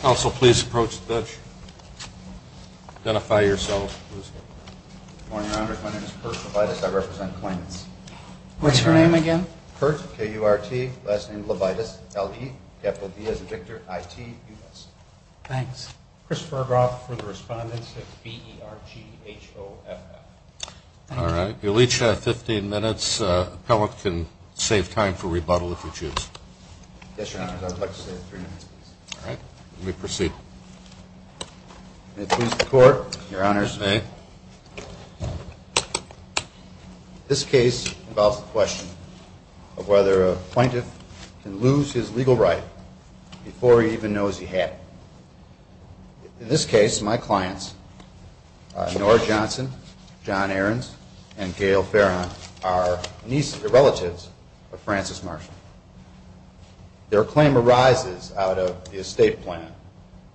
Council, please approach the bench. Identify yourself. Good morning, Your Honor. My name is Kurt Levitas. I represent Kleins. What's your name again? Kurt, K-U-R-T, last name Levitas, L-E-F-O-D as in Victor, I-T-U-S. Thanks. Chris Burghoff for the respondents. It's B-E-R-G-H-O-F-F. All right. You'll each have 15 minutes. Appellant can save time for rebuttal if you choose. Yes, Your Honor. I would like to save three minutes, please. All right. You may proceed. May it please the Court. Your Honors. You may. This case involves the question of whether a plaintiff can lose his legal right before he even knows he had it. In this case, my clients, Nora Johnson, John Aarons, and Gail Farron, are nieces or relatives of Francis Marshall. Their claim arises out of the estate plan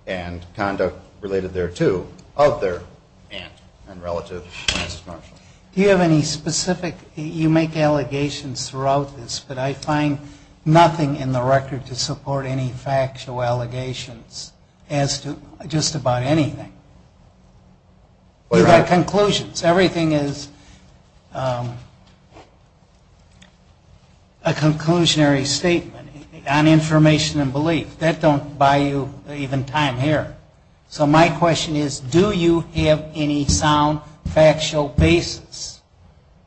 and conduct related thereto of their aunt and relative, Francis Marshall. Do you have any specific – you make allegations throughout this, but I find nothing in the record to support any factual allegations as to just about anything. You've got conclusions. Everything is a conclusionary statement on information and belief. That don't buy you even time here. So my question is, do you have any sound factual basis?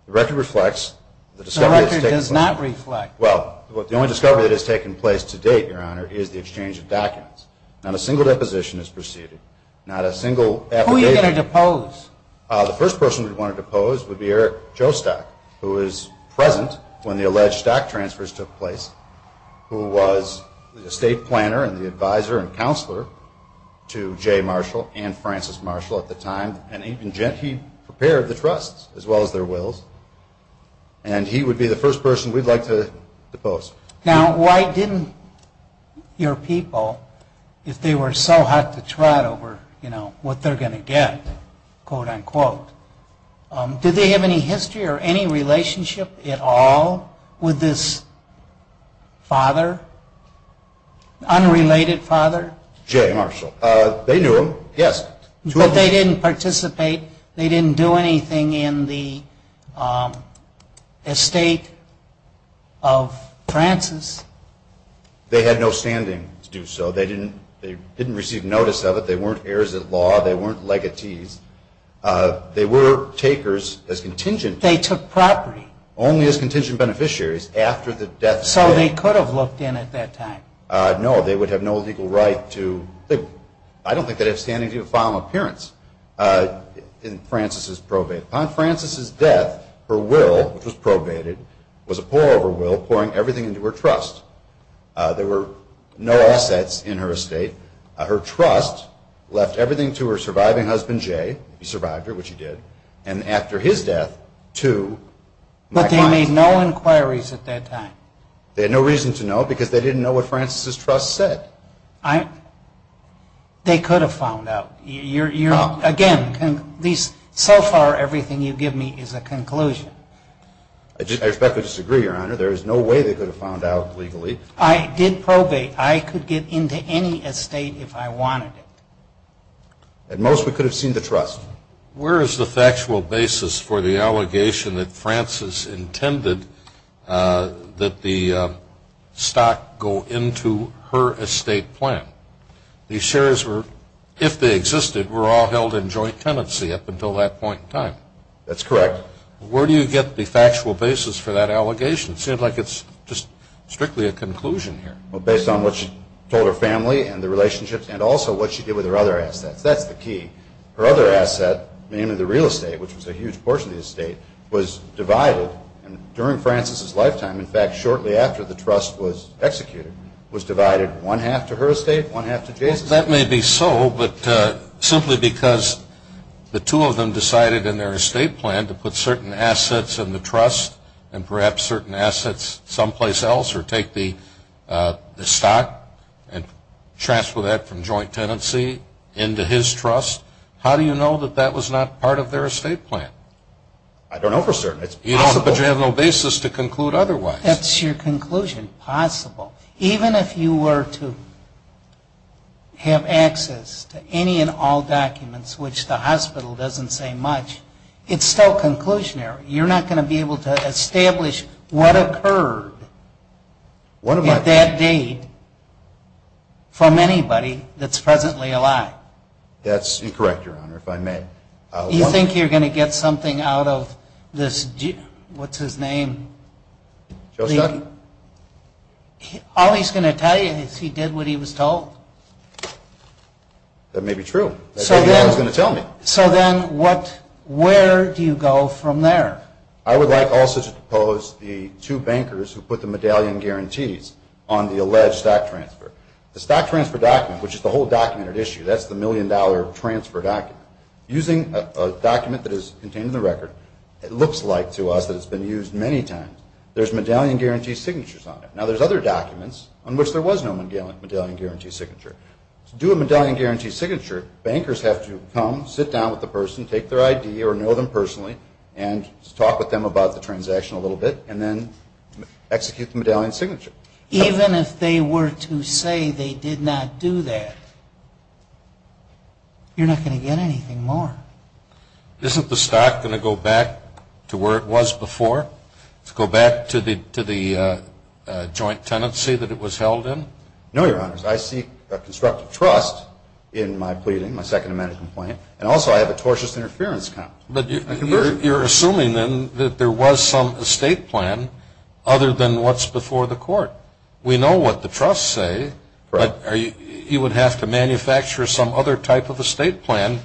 The record reflects the discovery that has taken place. The record does not reflect. Well, the only discovery that has taken place to date, Your Honor, is the exchange of documents. Not a single deposition has proceeded. Not a single affidavit. Who are you going to depose? The first person we'd want to depose would be Eric Jostock, who was present when the alleged stock transfers took place, who was the estate planner and the advisor and counselor to Jay Marshall and Francis Marshall at the time. And he prepared the trusts as well as their wills. And he would be the first person we'd like to depose. Now, why didn't your people, if they were so hot to trot over, you know, what they're going to get, quote, unquote, did they have any history or any relationship at all with this father, unrelated father? Jay Marshall. They knew him, yes. But they didn't participate. They didn't do anything in the estate of Francis. They had no standing to do so. They didn't receive notice of it. They weren't heirs of law. They weren't legatees. They were takers as contingent. They took property. Only as contingent beneficiaries after the death of Jay. So they could have looked in at that time. No, they would have no legal right to. I don't think they have standing to file an appearance in Francis's probate. Upon Francis's death, her will, which was probated, was a pour-over will, pouring everything into her trust. There were no assets in her estate. Her trust left everything to her surviving husband, Jay. He survived her, which he did. And after his death, to my client. But they made no inquiries at that time. They had no reason to know because they didn't know what Francis's trust said. They could have found out. Again, so far everything you've given me is a conclusion. I respectfully disagree, Your Honor. There is no way they could have found out legally. I did probate. I could get into any estate if I wanted it. At most, we could have seen the trust. Where is the factual basis for the allegation that Francis intended that the stock go into her estate plan? The shares were, if they existed, were all held in joint tenancy up until that point in time. That's correct. Where do you get the factual basis for that allegation? It seems like it's just strictly a conclusion here. Based on what she told her family and the relationships and also what she did with her other assets. That's the key. Her other asset, namely the real estate, which was a huge portion of the estate, was divided. During Francis's lifetime, in fact, shortly after the trust was executed, was divided one-half to her estate, one-half to Jason's. That may be so, but simply because the two of them decided in their estate plan to put certain assets in the trust and perhaps certain assets someplace else or take the stock and transfer that from joint tenancy into his trust. How do you know that that was not part of their estate plan? I don't know for certain. It's possible. But you have no basis to conclude otherwise. That's your conclusion, possible. Even if you were to have access to any and all documents, which the hospital doesn't say much, it's still conclusionary. You're not going to be able to establish what occurred at that date from anybody that's presently alive. That's incorrect, Your Honor, if I may. You think you're going to get something out of this, what's his name? Joe Schuckey. All he's going to tell you is he did what he was told. That may be true. That's what he was going to tell me. So then where do you go from there? I would like also to propose the two bankers who put the medallion guarantees on the alleged stock transfer. The stock transfer document, which is the whole documented issue, that's the million-dollar transfer document. Using a document that is contained in the record, it looks like to us that it's been used many times. There's medallion guarantee signatures on it. Now, there's other documents on which there was no medallion guarantee signature. To do a medallion guarantee signature, bankers have to come, sit down with the person, take their ID or know them personally and talk with them about the transaction a little bit and then execute the medallion signature. Even if they were to say they did not do that, you're not going to get anything more. Isn't the stock going to go back to where it was before, to go back to the joint tenancy that it was held in? No, Your Honors. I seek a constructive trust in my pleading, my Second Amendment complaint, and also I have a tortious interference comp. But you're assuming then that there was some estate plan other than what's before the court. We know what the trusts say, but you would have to manufacture some other type of estate plan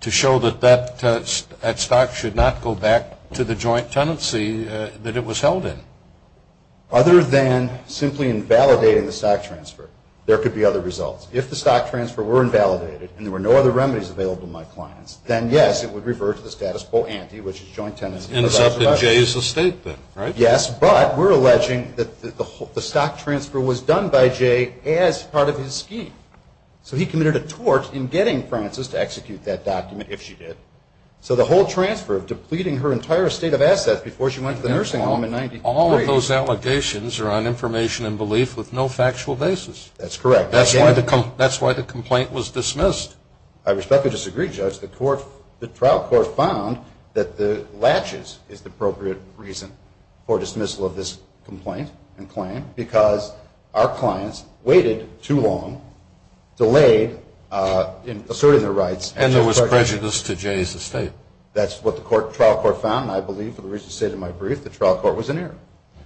to show that that stock should not go back to the joint tenancy that it was held in. Other than simply invalidating the stock transfer, there could be other results. If the stock transfer were invalidated and there were no other remedies available to my clients, then yes, it would revert to the status quo ante, which is joint tenancy. And it's up in Jay's estate then, right? Yes, but we're alleging that the stock transfer was done by Jay as part of his scheme. So he committed a tort in getting Frances to execute that document, if she did. So the whole transfer of depleting her entire estate of assets before she went to the nursing home in 1993. All of those allegations are on information and belief with no factual basis. That's correct. That's why the complaint was dismissed. I respectfully disagree, Judge. The trial court found that the latches is the appropriate reason for dismissal of this complaint and claim because our clients waited too long, delayed in asserting their rights. And there was prejudice to Jay's estate. That's what the trial court found. And I believe, for the reason stated in my brief, the trial court was in error.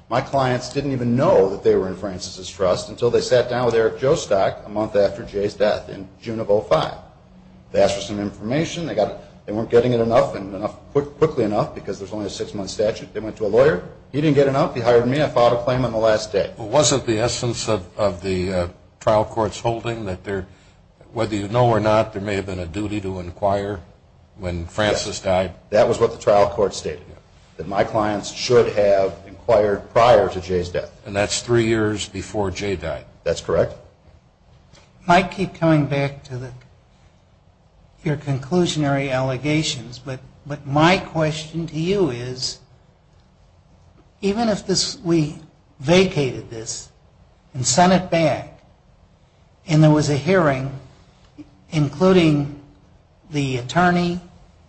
My clients didn't even know that they were in Frances' trust until they sat down with Eric Jostock a month after Jay's death in June of 2005. They asked for some information. They weren't getting it enough and quickly enough because there's only a six-month statute. They went to a lawyer. He didn't get enough. He hired me. I filed a claim on the last day. Wasn't the essence of the trial court's holding that whether you know or not, there may have been a duty to inquire when Frances died? That was what the trial court stated, that my clients should have inquired prior to Jay's death. And that's three years before Jay died. That's correct. I might keep coming back to your conclusionary allegations, but my question to you is, even if we vacated this and sent it back and there was a hearing, including the attorney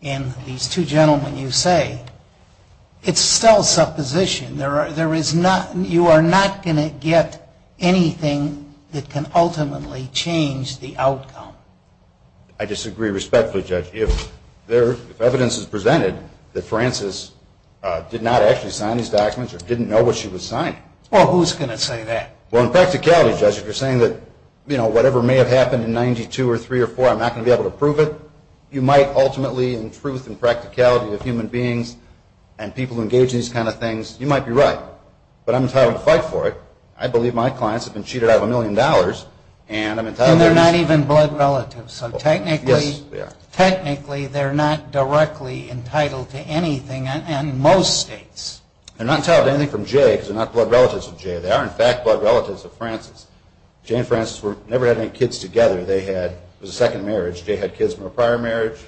and these two gentlemen you say, it's still supposition. You are not going to get anything that can ultimately change the outcome. I disagree respectfully, Judge. If evidence is presented that Frances did not actually sign these documents or didn't know what she was signing. Well, who's going to say that? Well, in practicality, Judge, if you're saying that whatever may have happened in 92 or 3 or 4, I'm not going to be able to prove it, you might ultimately in truth and practicality of human beings and people who engage in these kind of things, you might be right. But I'm entitled to fight for it. I believe my clients have been cheated out of a million dollars. And they're not even blood relatives. So technically they're not directly entitled to anything in most states. They're not entitled to anything from Jay because they're not blood relatives of Jay. They are, in fact, blood relatives of Frances. Jay and Frances never had any kids together. It was a second marriage. Jay had kids from a prior marriage.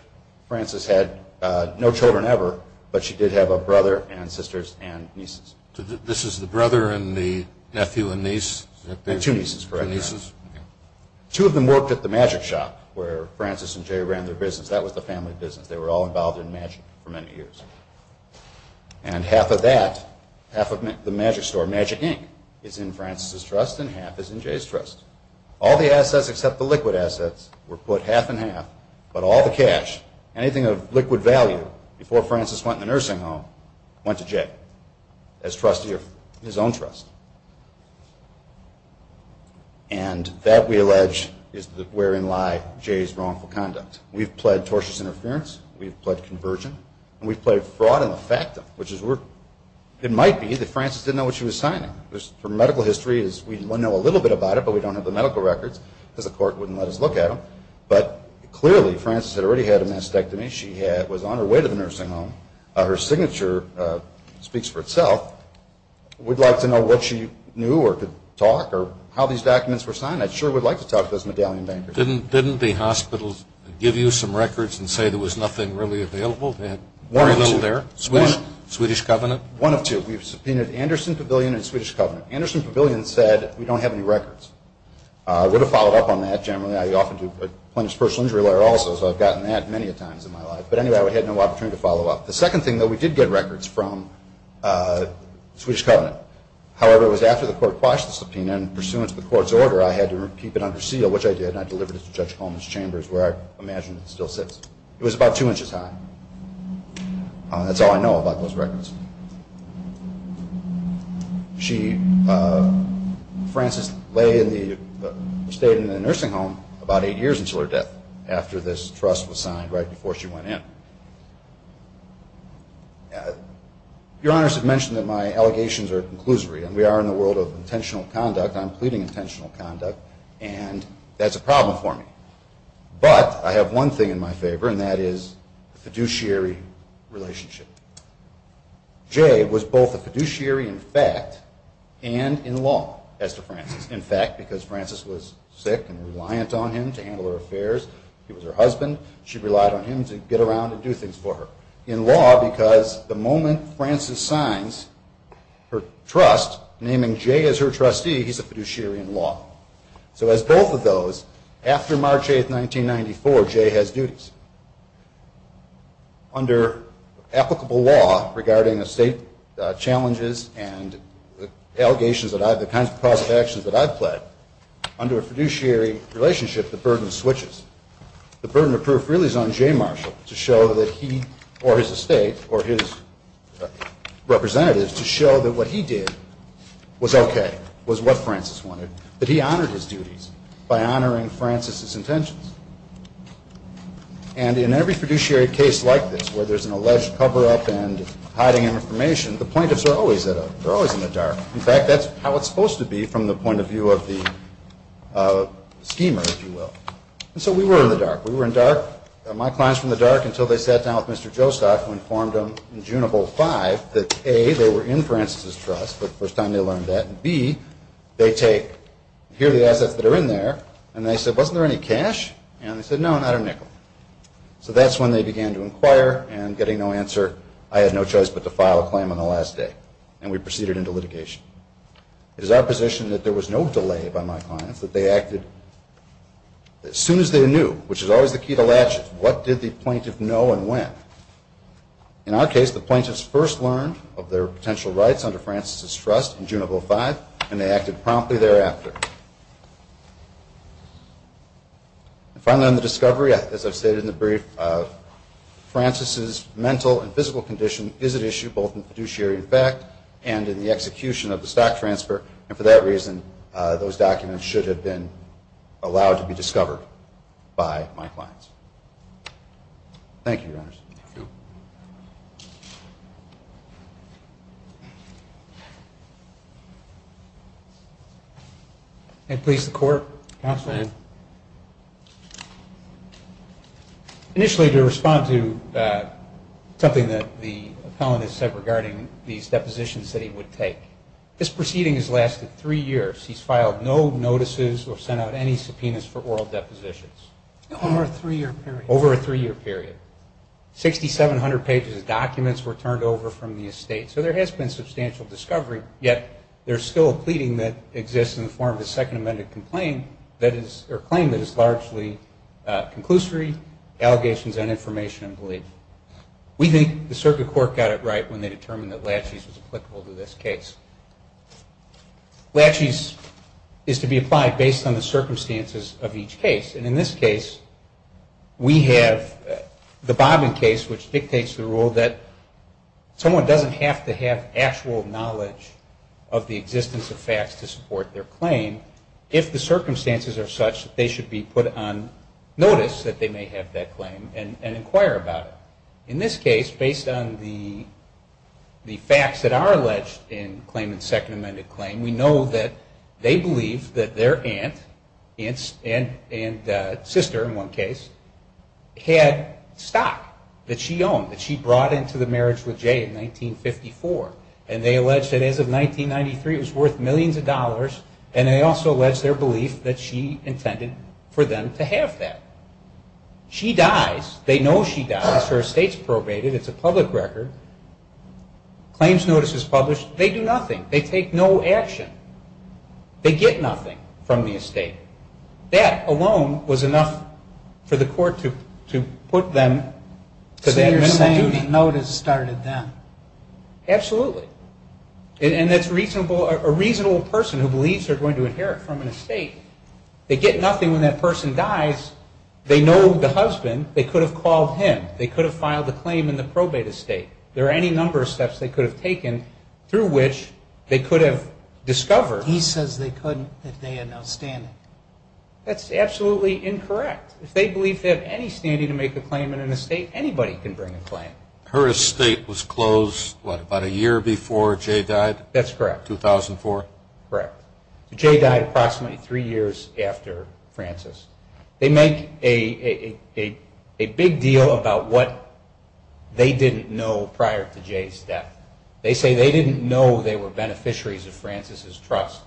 Frances had no children ever, but she did have a brother and sisters and nieces. This is the brother and the nephew and niece? Two nieces. Two of them worked at the magic shop where Frances and Jay ran their business. That was the family business. They were all involved in magic for many years. And half of that, half of the magic store, Magic Inc., is in Frances' trust and half is in Jay's trust. All the assets except the liquid assets were put half and half, but all the cash, anything of liquid value, before Frances went in the nursing home, went to Jay as trustee of his own trust. And that, we allege, is wherein lie Jay's wrongful conduct. We've pled tortious interference. We've pled conversion. And we've pled fraud in the factum, which is where it might be that Frances didn't know what she was signing. Her medical history, we know a little bit about it, but we don't have the medical records because the court wouldn't let us look at them. But clearly Frances had already had a mastectomy. She was on her way to the nursing home. Her signature speaks for itself. We'd like to know what she knew or could talk or how these documents were signed. I sure would like to talk to those medallion bankers. Didn't the hospitals give you some records and say there was nothing really available? They had very little there. One of two. Swedish Covenant? One of two. We've subpoenaed Anderson Pavilion and Swedish Covenant. Anderson Pavilion said, we don't have any records. I would have followed up on that generally. I often do a plaintiff's personal injury lawyer also, so I've gotten that many a times in my life. But anyway, I had no opportunity to follow up. The second thing, though, we did get records from Swedish Covenant. However, it was after the court quashed the subpoena, and pursuant to the court's order, I had to keep it under seal, which I did, and I delivered it to Judge Coleman's chambers, where I imagine it still sits. It was about two inches high. That's all I know about those records. Frances stayed in the nursing home about eight years until her death, after this trust was signed, right before she went in. Your Honors have mentioned that my allegations are conclusory, and we are in the world of intentional conduct. I'm pleading intentional conduct, and that's a problem for me. But I have one thing in my favor, and that is the fiduciary relationship. Jay was both a fiduciary in fact and in law as to Frances. In fact, because Frances was sick and reliant on him to handle her affairs. He was her husband. She relied on him to get around and do things for her. In law, because the moment Frances signs her trust, naming Jay as her trustee, he's a fiduciary in law. So as both of those, after March 8, 1994, Jay has duties. Under applicable law regarding estate challenges and allegations of the kinds of actions that I've pled, under a fiduciary relationship, the burden switches. The burden of proof really is on Jay Marshall to show that he or his estate or his representatives to show that what he did was okay, was what Frances wanted, that he honored his duties by honoring Frances's intentions. And in every fiduciary case like this where there's an alleged cover-up and hiding information, the plaintiffs are always in the dark. In fact, that's how it's supposed to be from the point of view of the schemer, if you will. And so we were in the dark. We were in the dark. My clients were in the dark until they sat down with Mr. Jostock who informed them in June of 2005 that, A, they were in Frances's trust the first time they learned that, and, B, they take, here are the assets that are in there, and they said, wasn't there any cash? And they said, no, not a nickel. So that's when they began to inquire, and getting no answer, I had no choice but to file a claim on the last day, and we proceeded into litigation. It is our position that there was no delay by my clients, that they acted as soon as they knew, which is always the key to latches. What did the plaintiff know and when? In our case, the plaintiffs first learned of their potential rights under Frances's trust in June of 2005, and they acted promptly thereafter. And finally on the discovery, as I've stated in the brief, Frances's mental and physical condition is an issue both in fiduciary and fact and in the execution of the stock transfer, and for that reason those documents should have been allowed to be discovered by my clients. Thank you, Your Honors. Thank you. May it please the Court. Counsel. Initially to respond to something that the appellant has said regarding these depositions that he would take. This proceeding has lasted three years. He's filed no notices or sent out any subpoenas for oral depositions. Over a three-year period. Over a three-year period. 6,700 pages of documents were turned over from the estate, so there has been substantial discovery, yet there's still a pleading that exists in the form of a Second Amendment complaint that is or claim that is largely conclusory, allegations on information and belief. We think the Circuit Court got it right when they determined that Latches was applicable to this case. Latches is to be applied based on the circumstances of each case, and in this case we have the Bobbin case, which dictates the rule that someone doesn't have to have actual knowledge of the existence of facts to support their claim, if the circumstances are such that they should be put on notice that they may have that claim and inquire about it. In this case, based on the facts that are alleged in claimant's Second Amendment claim, we know that they believe that their aunt and sister, in one case, had stock that she owned, that she brought into the marriage with Jay in 1954, and they allege that as of 1993 it was worth millions of dollars, and they also allege their belief that she intended for them to have that. She dies. They know she dies. Her estate's probated. It's a public record. Claims notice is published. They do nothing. They take no action. They get nothing from the estate. That alone was enough for the court to put them to that minimum duty. The claimant notice started them. Absolutely. And that's a reasonable person who believes they're going to inherit from an estate. They get nothing when that person dies. They know the husband. They could have called him. They could have filed a claim in the probated estate. There are any number of steps they could have taken through which they could have discovered. He says they couldn't if they had no standing. That's absolutely incorrect. If they believe they have any standing to make a claim in an estate, anybody can bring a claim. Her estate was closed, what, about a year before Jay died? That's correct. 2004? Correct. Jay died approximately three years after Frances. They make a big deal about what they didn't know prior to Jay's death. They say they didn't know they were beneficiaries of Frances' trust.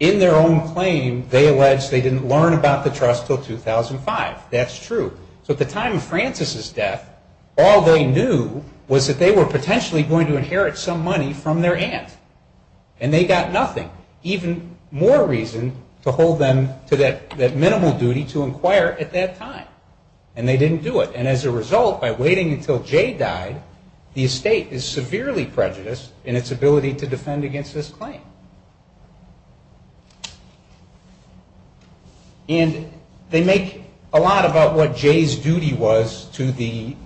In their own claim, they allege they didn't learn about the trust until 2005. That's true. So at the time of Frances' death, all they knew was that they were potentially going to inherit some money from their aunt. And they got nothing. Even more reason to hold them to that minimal duty to inquire at that time. And they didn't do it. And as a result, by waiting until Jay died, the estate is severely prejudiced in its ability to defend against this claim. And they make a lot about what Jay's duty was to the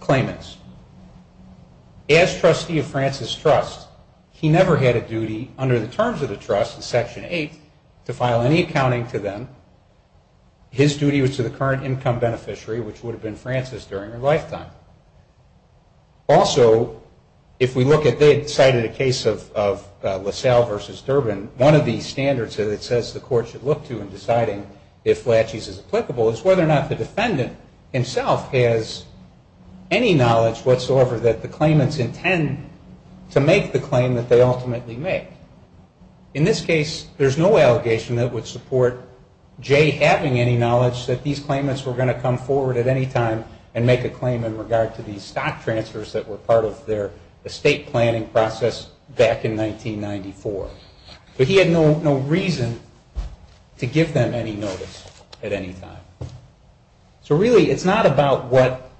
claimants. As trustee of Frances' trust, he never had a duty under the terms of the trust in Section 8 to file any accounting to them. His duty was to the current income beneficiary, which would have been Frances during her lifetime. Also, if we look at the case of LaSalle v. Durbin, one of the standards that it says the court should look to in deciding if Latches is applicable is whether or not the defendant himself has any knowledge whatsoever that the claimants intend to make the claim that they ultimately make. In this case, there's no allegation that would support Jay having any knowledge that these claimants were going to come forward at any time and make a claim in regard to these stock transfers that were part of their estate planning process back in 1994. But he had no reason to give them any notice at any time. So really, it's not about what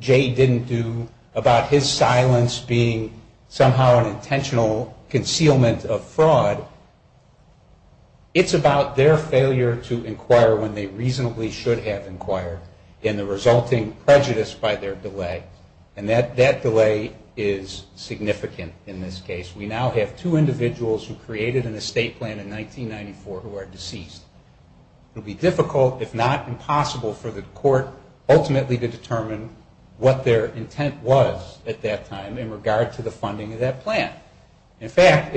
Jay didn't do, about his silence being somehow an intentional concealment of fraud. It's about their failure to inquire when they reasonably should have inquired and the resulting prejudice by their delay. And that delay is significant in this case. We now have two individuals who created an estate plan in 1994 who are deceased. It would be difficult, if not impossible, for the court ultimately to determine what their intent was at that time in regard to the funding of that plan. In fact,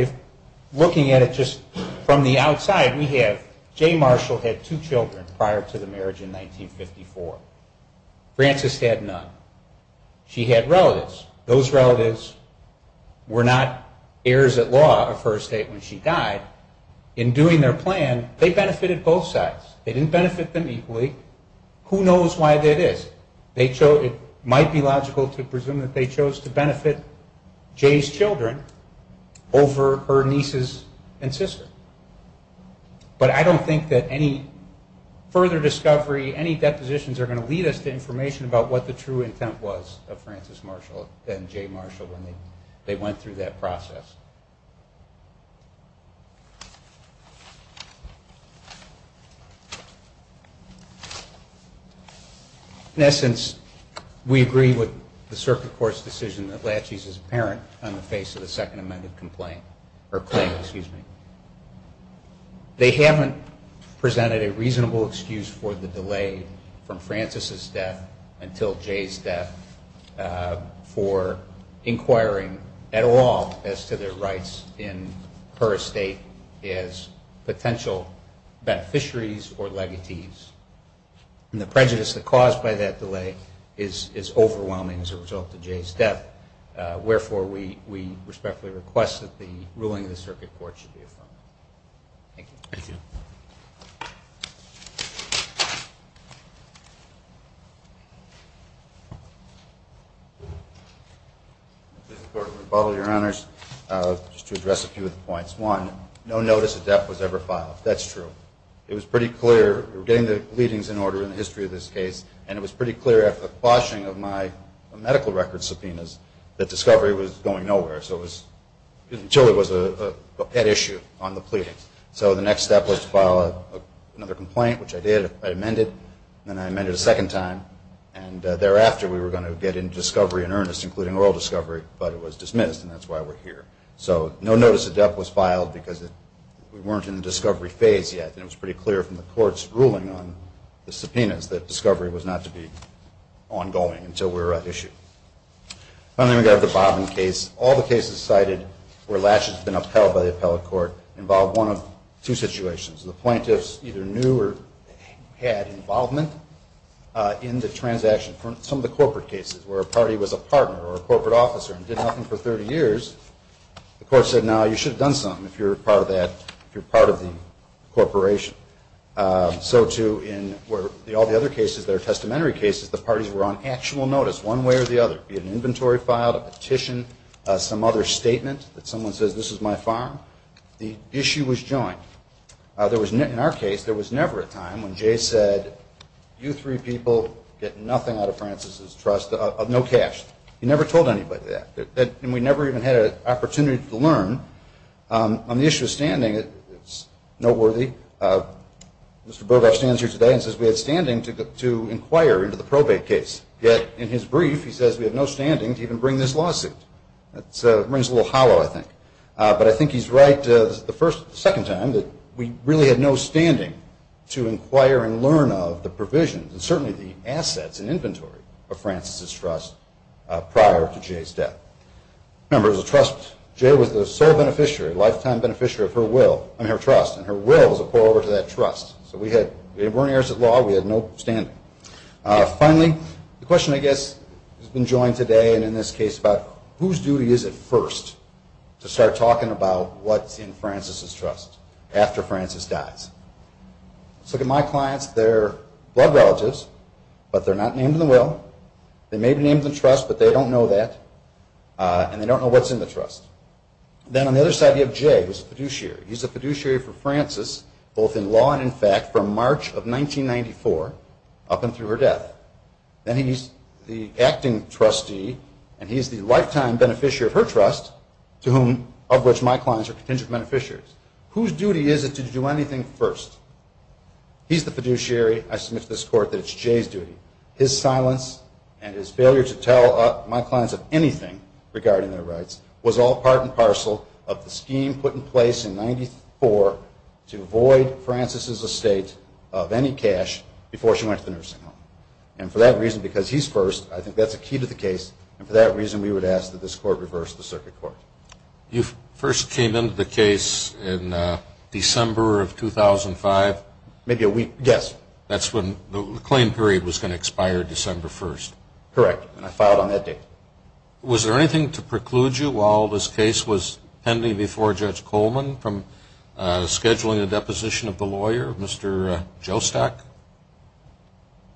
looking at it just from the outside, we have Jay Marshall had two children prior to the marriage in 1954. Frances had none. She had relatives. Those relatives were not heirs at law of her estate when she died. In doing their plan, they benefited both sides. They didn't benefit them equally. Who knows why that is? It might be logical to presume that they chose to benefit Jay's children over her nieces and sister. But I don't think that any further discovery, any depositions are going to lead us to information about what the true intent was of Frances Marshall and Jay Marshall when they went through that process. In essence, we agree with the circuit court's decision that Latches is a claim. They haven't presented a reasonable excuse for the delay from Frances' death until Jay's death for inquiring at all as to their rights in her estate as potential beneficiaries or legatees. And the prejudice caused by that delay is overwhelming as a result of Jay's death. Wherefore, we respectfully request that the ruling of the circuit court should be affirmed. Thank you. Thank you. Mr. Court, your Honor, just to address a few of the points. One, no notice of death was ever filed. That's true. It was pretty clear. We're getting the leadings in order in the history of this case. And it was pretty clear after the quashing of my medical record subpoenas that discovery was going nowhere until it was a pet issue on the pleadings. So the next step was to file another complaint, which I did. I amended. Then I amended a second time. And thereafter, we were going to get into discovery in earnest, including oral discovery, but it was dismissed, and that's why we're here. So no notice of death was filed because we weren't in the discovery phase yet. And it was pretty clear from the court's ruling on the subpoenas that discovery was not to be ongoing until we were at issue. And then we got the Bobbin case. All the cases cited where latches had been upheld by the appellate court involved one of two situations. The plaintiffs either knew or had involvement in the transaction. Some of the corporate cases where a party was a partner or a corporate officer and did nothing for 30 years, the court said, no, you should have done something if you're part of the corporation. So, too, in all the other cases that are testamentary cases, the parties were on actual notice one way or the other, be it an inventory filed, a petition, some other statement that someone says, this is my farm. The issue was joined. In our case, there was never a time when Jay said, you three people get nothing out of Francis' trust, no cash. He never told anybody that. And we never even had an opportunity to learn. On the issue of standing, it's noteworthy. Mr. Bobov stands here today and says we had standing to inquire into the probate case. Yet, in his brief, he says we have no standing to even bring this lawsuit. It rings a little hollow, I think. But I think he's right the second time that we really had no standing to inquire and learn of the provisions, and certainly the assets and inventory of Francis' trust prior to Jay's death. Remember, it was a trust. Jay was the sole beneficiary, lifetime beneficiary of her trust, and her will was to pour over to that trust. So we weren't heirs at law. We had no standing. Finally, the question, I guess, has been joined today and in this case about whose duty is it first to start talking about what's in Francis' trust after Francis dies? Let's look at my clients. They're blood relatives, but they're not named in the will. They may be named in the trust, but they don't know that, and they don't know what's in the trust. Then on the other side, you have Jay, who's a fiduciary. He's a fiduciary for Francis, both in law and in fact, from March of 1994 up and through her death. Then he's the acting trustee, and he's the lifetime beneficiary of her trust, of which my clients are contingent beneficiaries. Whose duty is it to do anything first? He's the fiduciary. I submit to this court that it's Jay's duty. His silence and his failure to tell my clients of anything regarding their rights was all part and parcel of the scheme put in place in 1994 to void Francis' estate of any cash before she went to the nursing home. And for that reason, because he's first, I think that's a key to the case, and for that reason we would ask that this court reverse the circuit court. You first came into the case in December of 2005. Maybe a week, yes. That's when the claim period was going to expire December 1st. Correct, and I filed on that date. Was there anything to preclude you while this case was pending before Judge Coleman from scheduling a deposition of the lawyer, Mr. Jostak?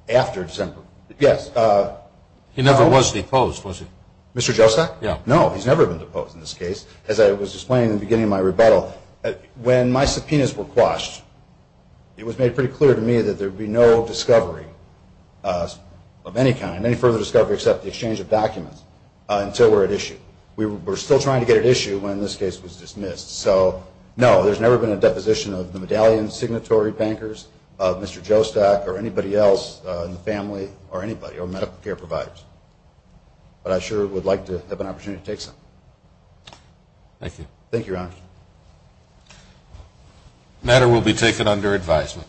After December, yes. He never was deposed, was he? Mr. Jostak? No, he's never been deposed in this case. As I was explaining in the beginning of my rebuttal, when my subpoenas were quashed, it was made pretty clear to me that there would be no discovery of any kind, any further discovery except the exchange of documents, until we're at issue. We were still trying to get at issue when this case was dismissed. So, no, there's never been a deposition of the medallion signatory bankers, of Mr. Jostak or anybody else in the family or anybody, or medical care providers. But I sure would like to have an opportunity to take some. Thank you. Thank you, Your Honor. The matter will be taken under advisement.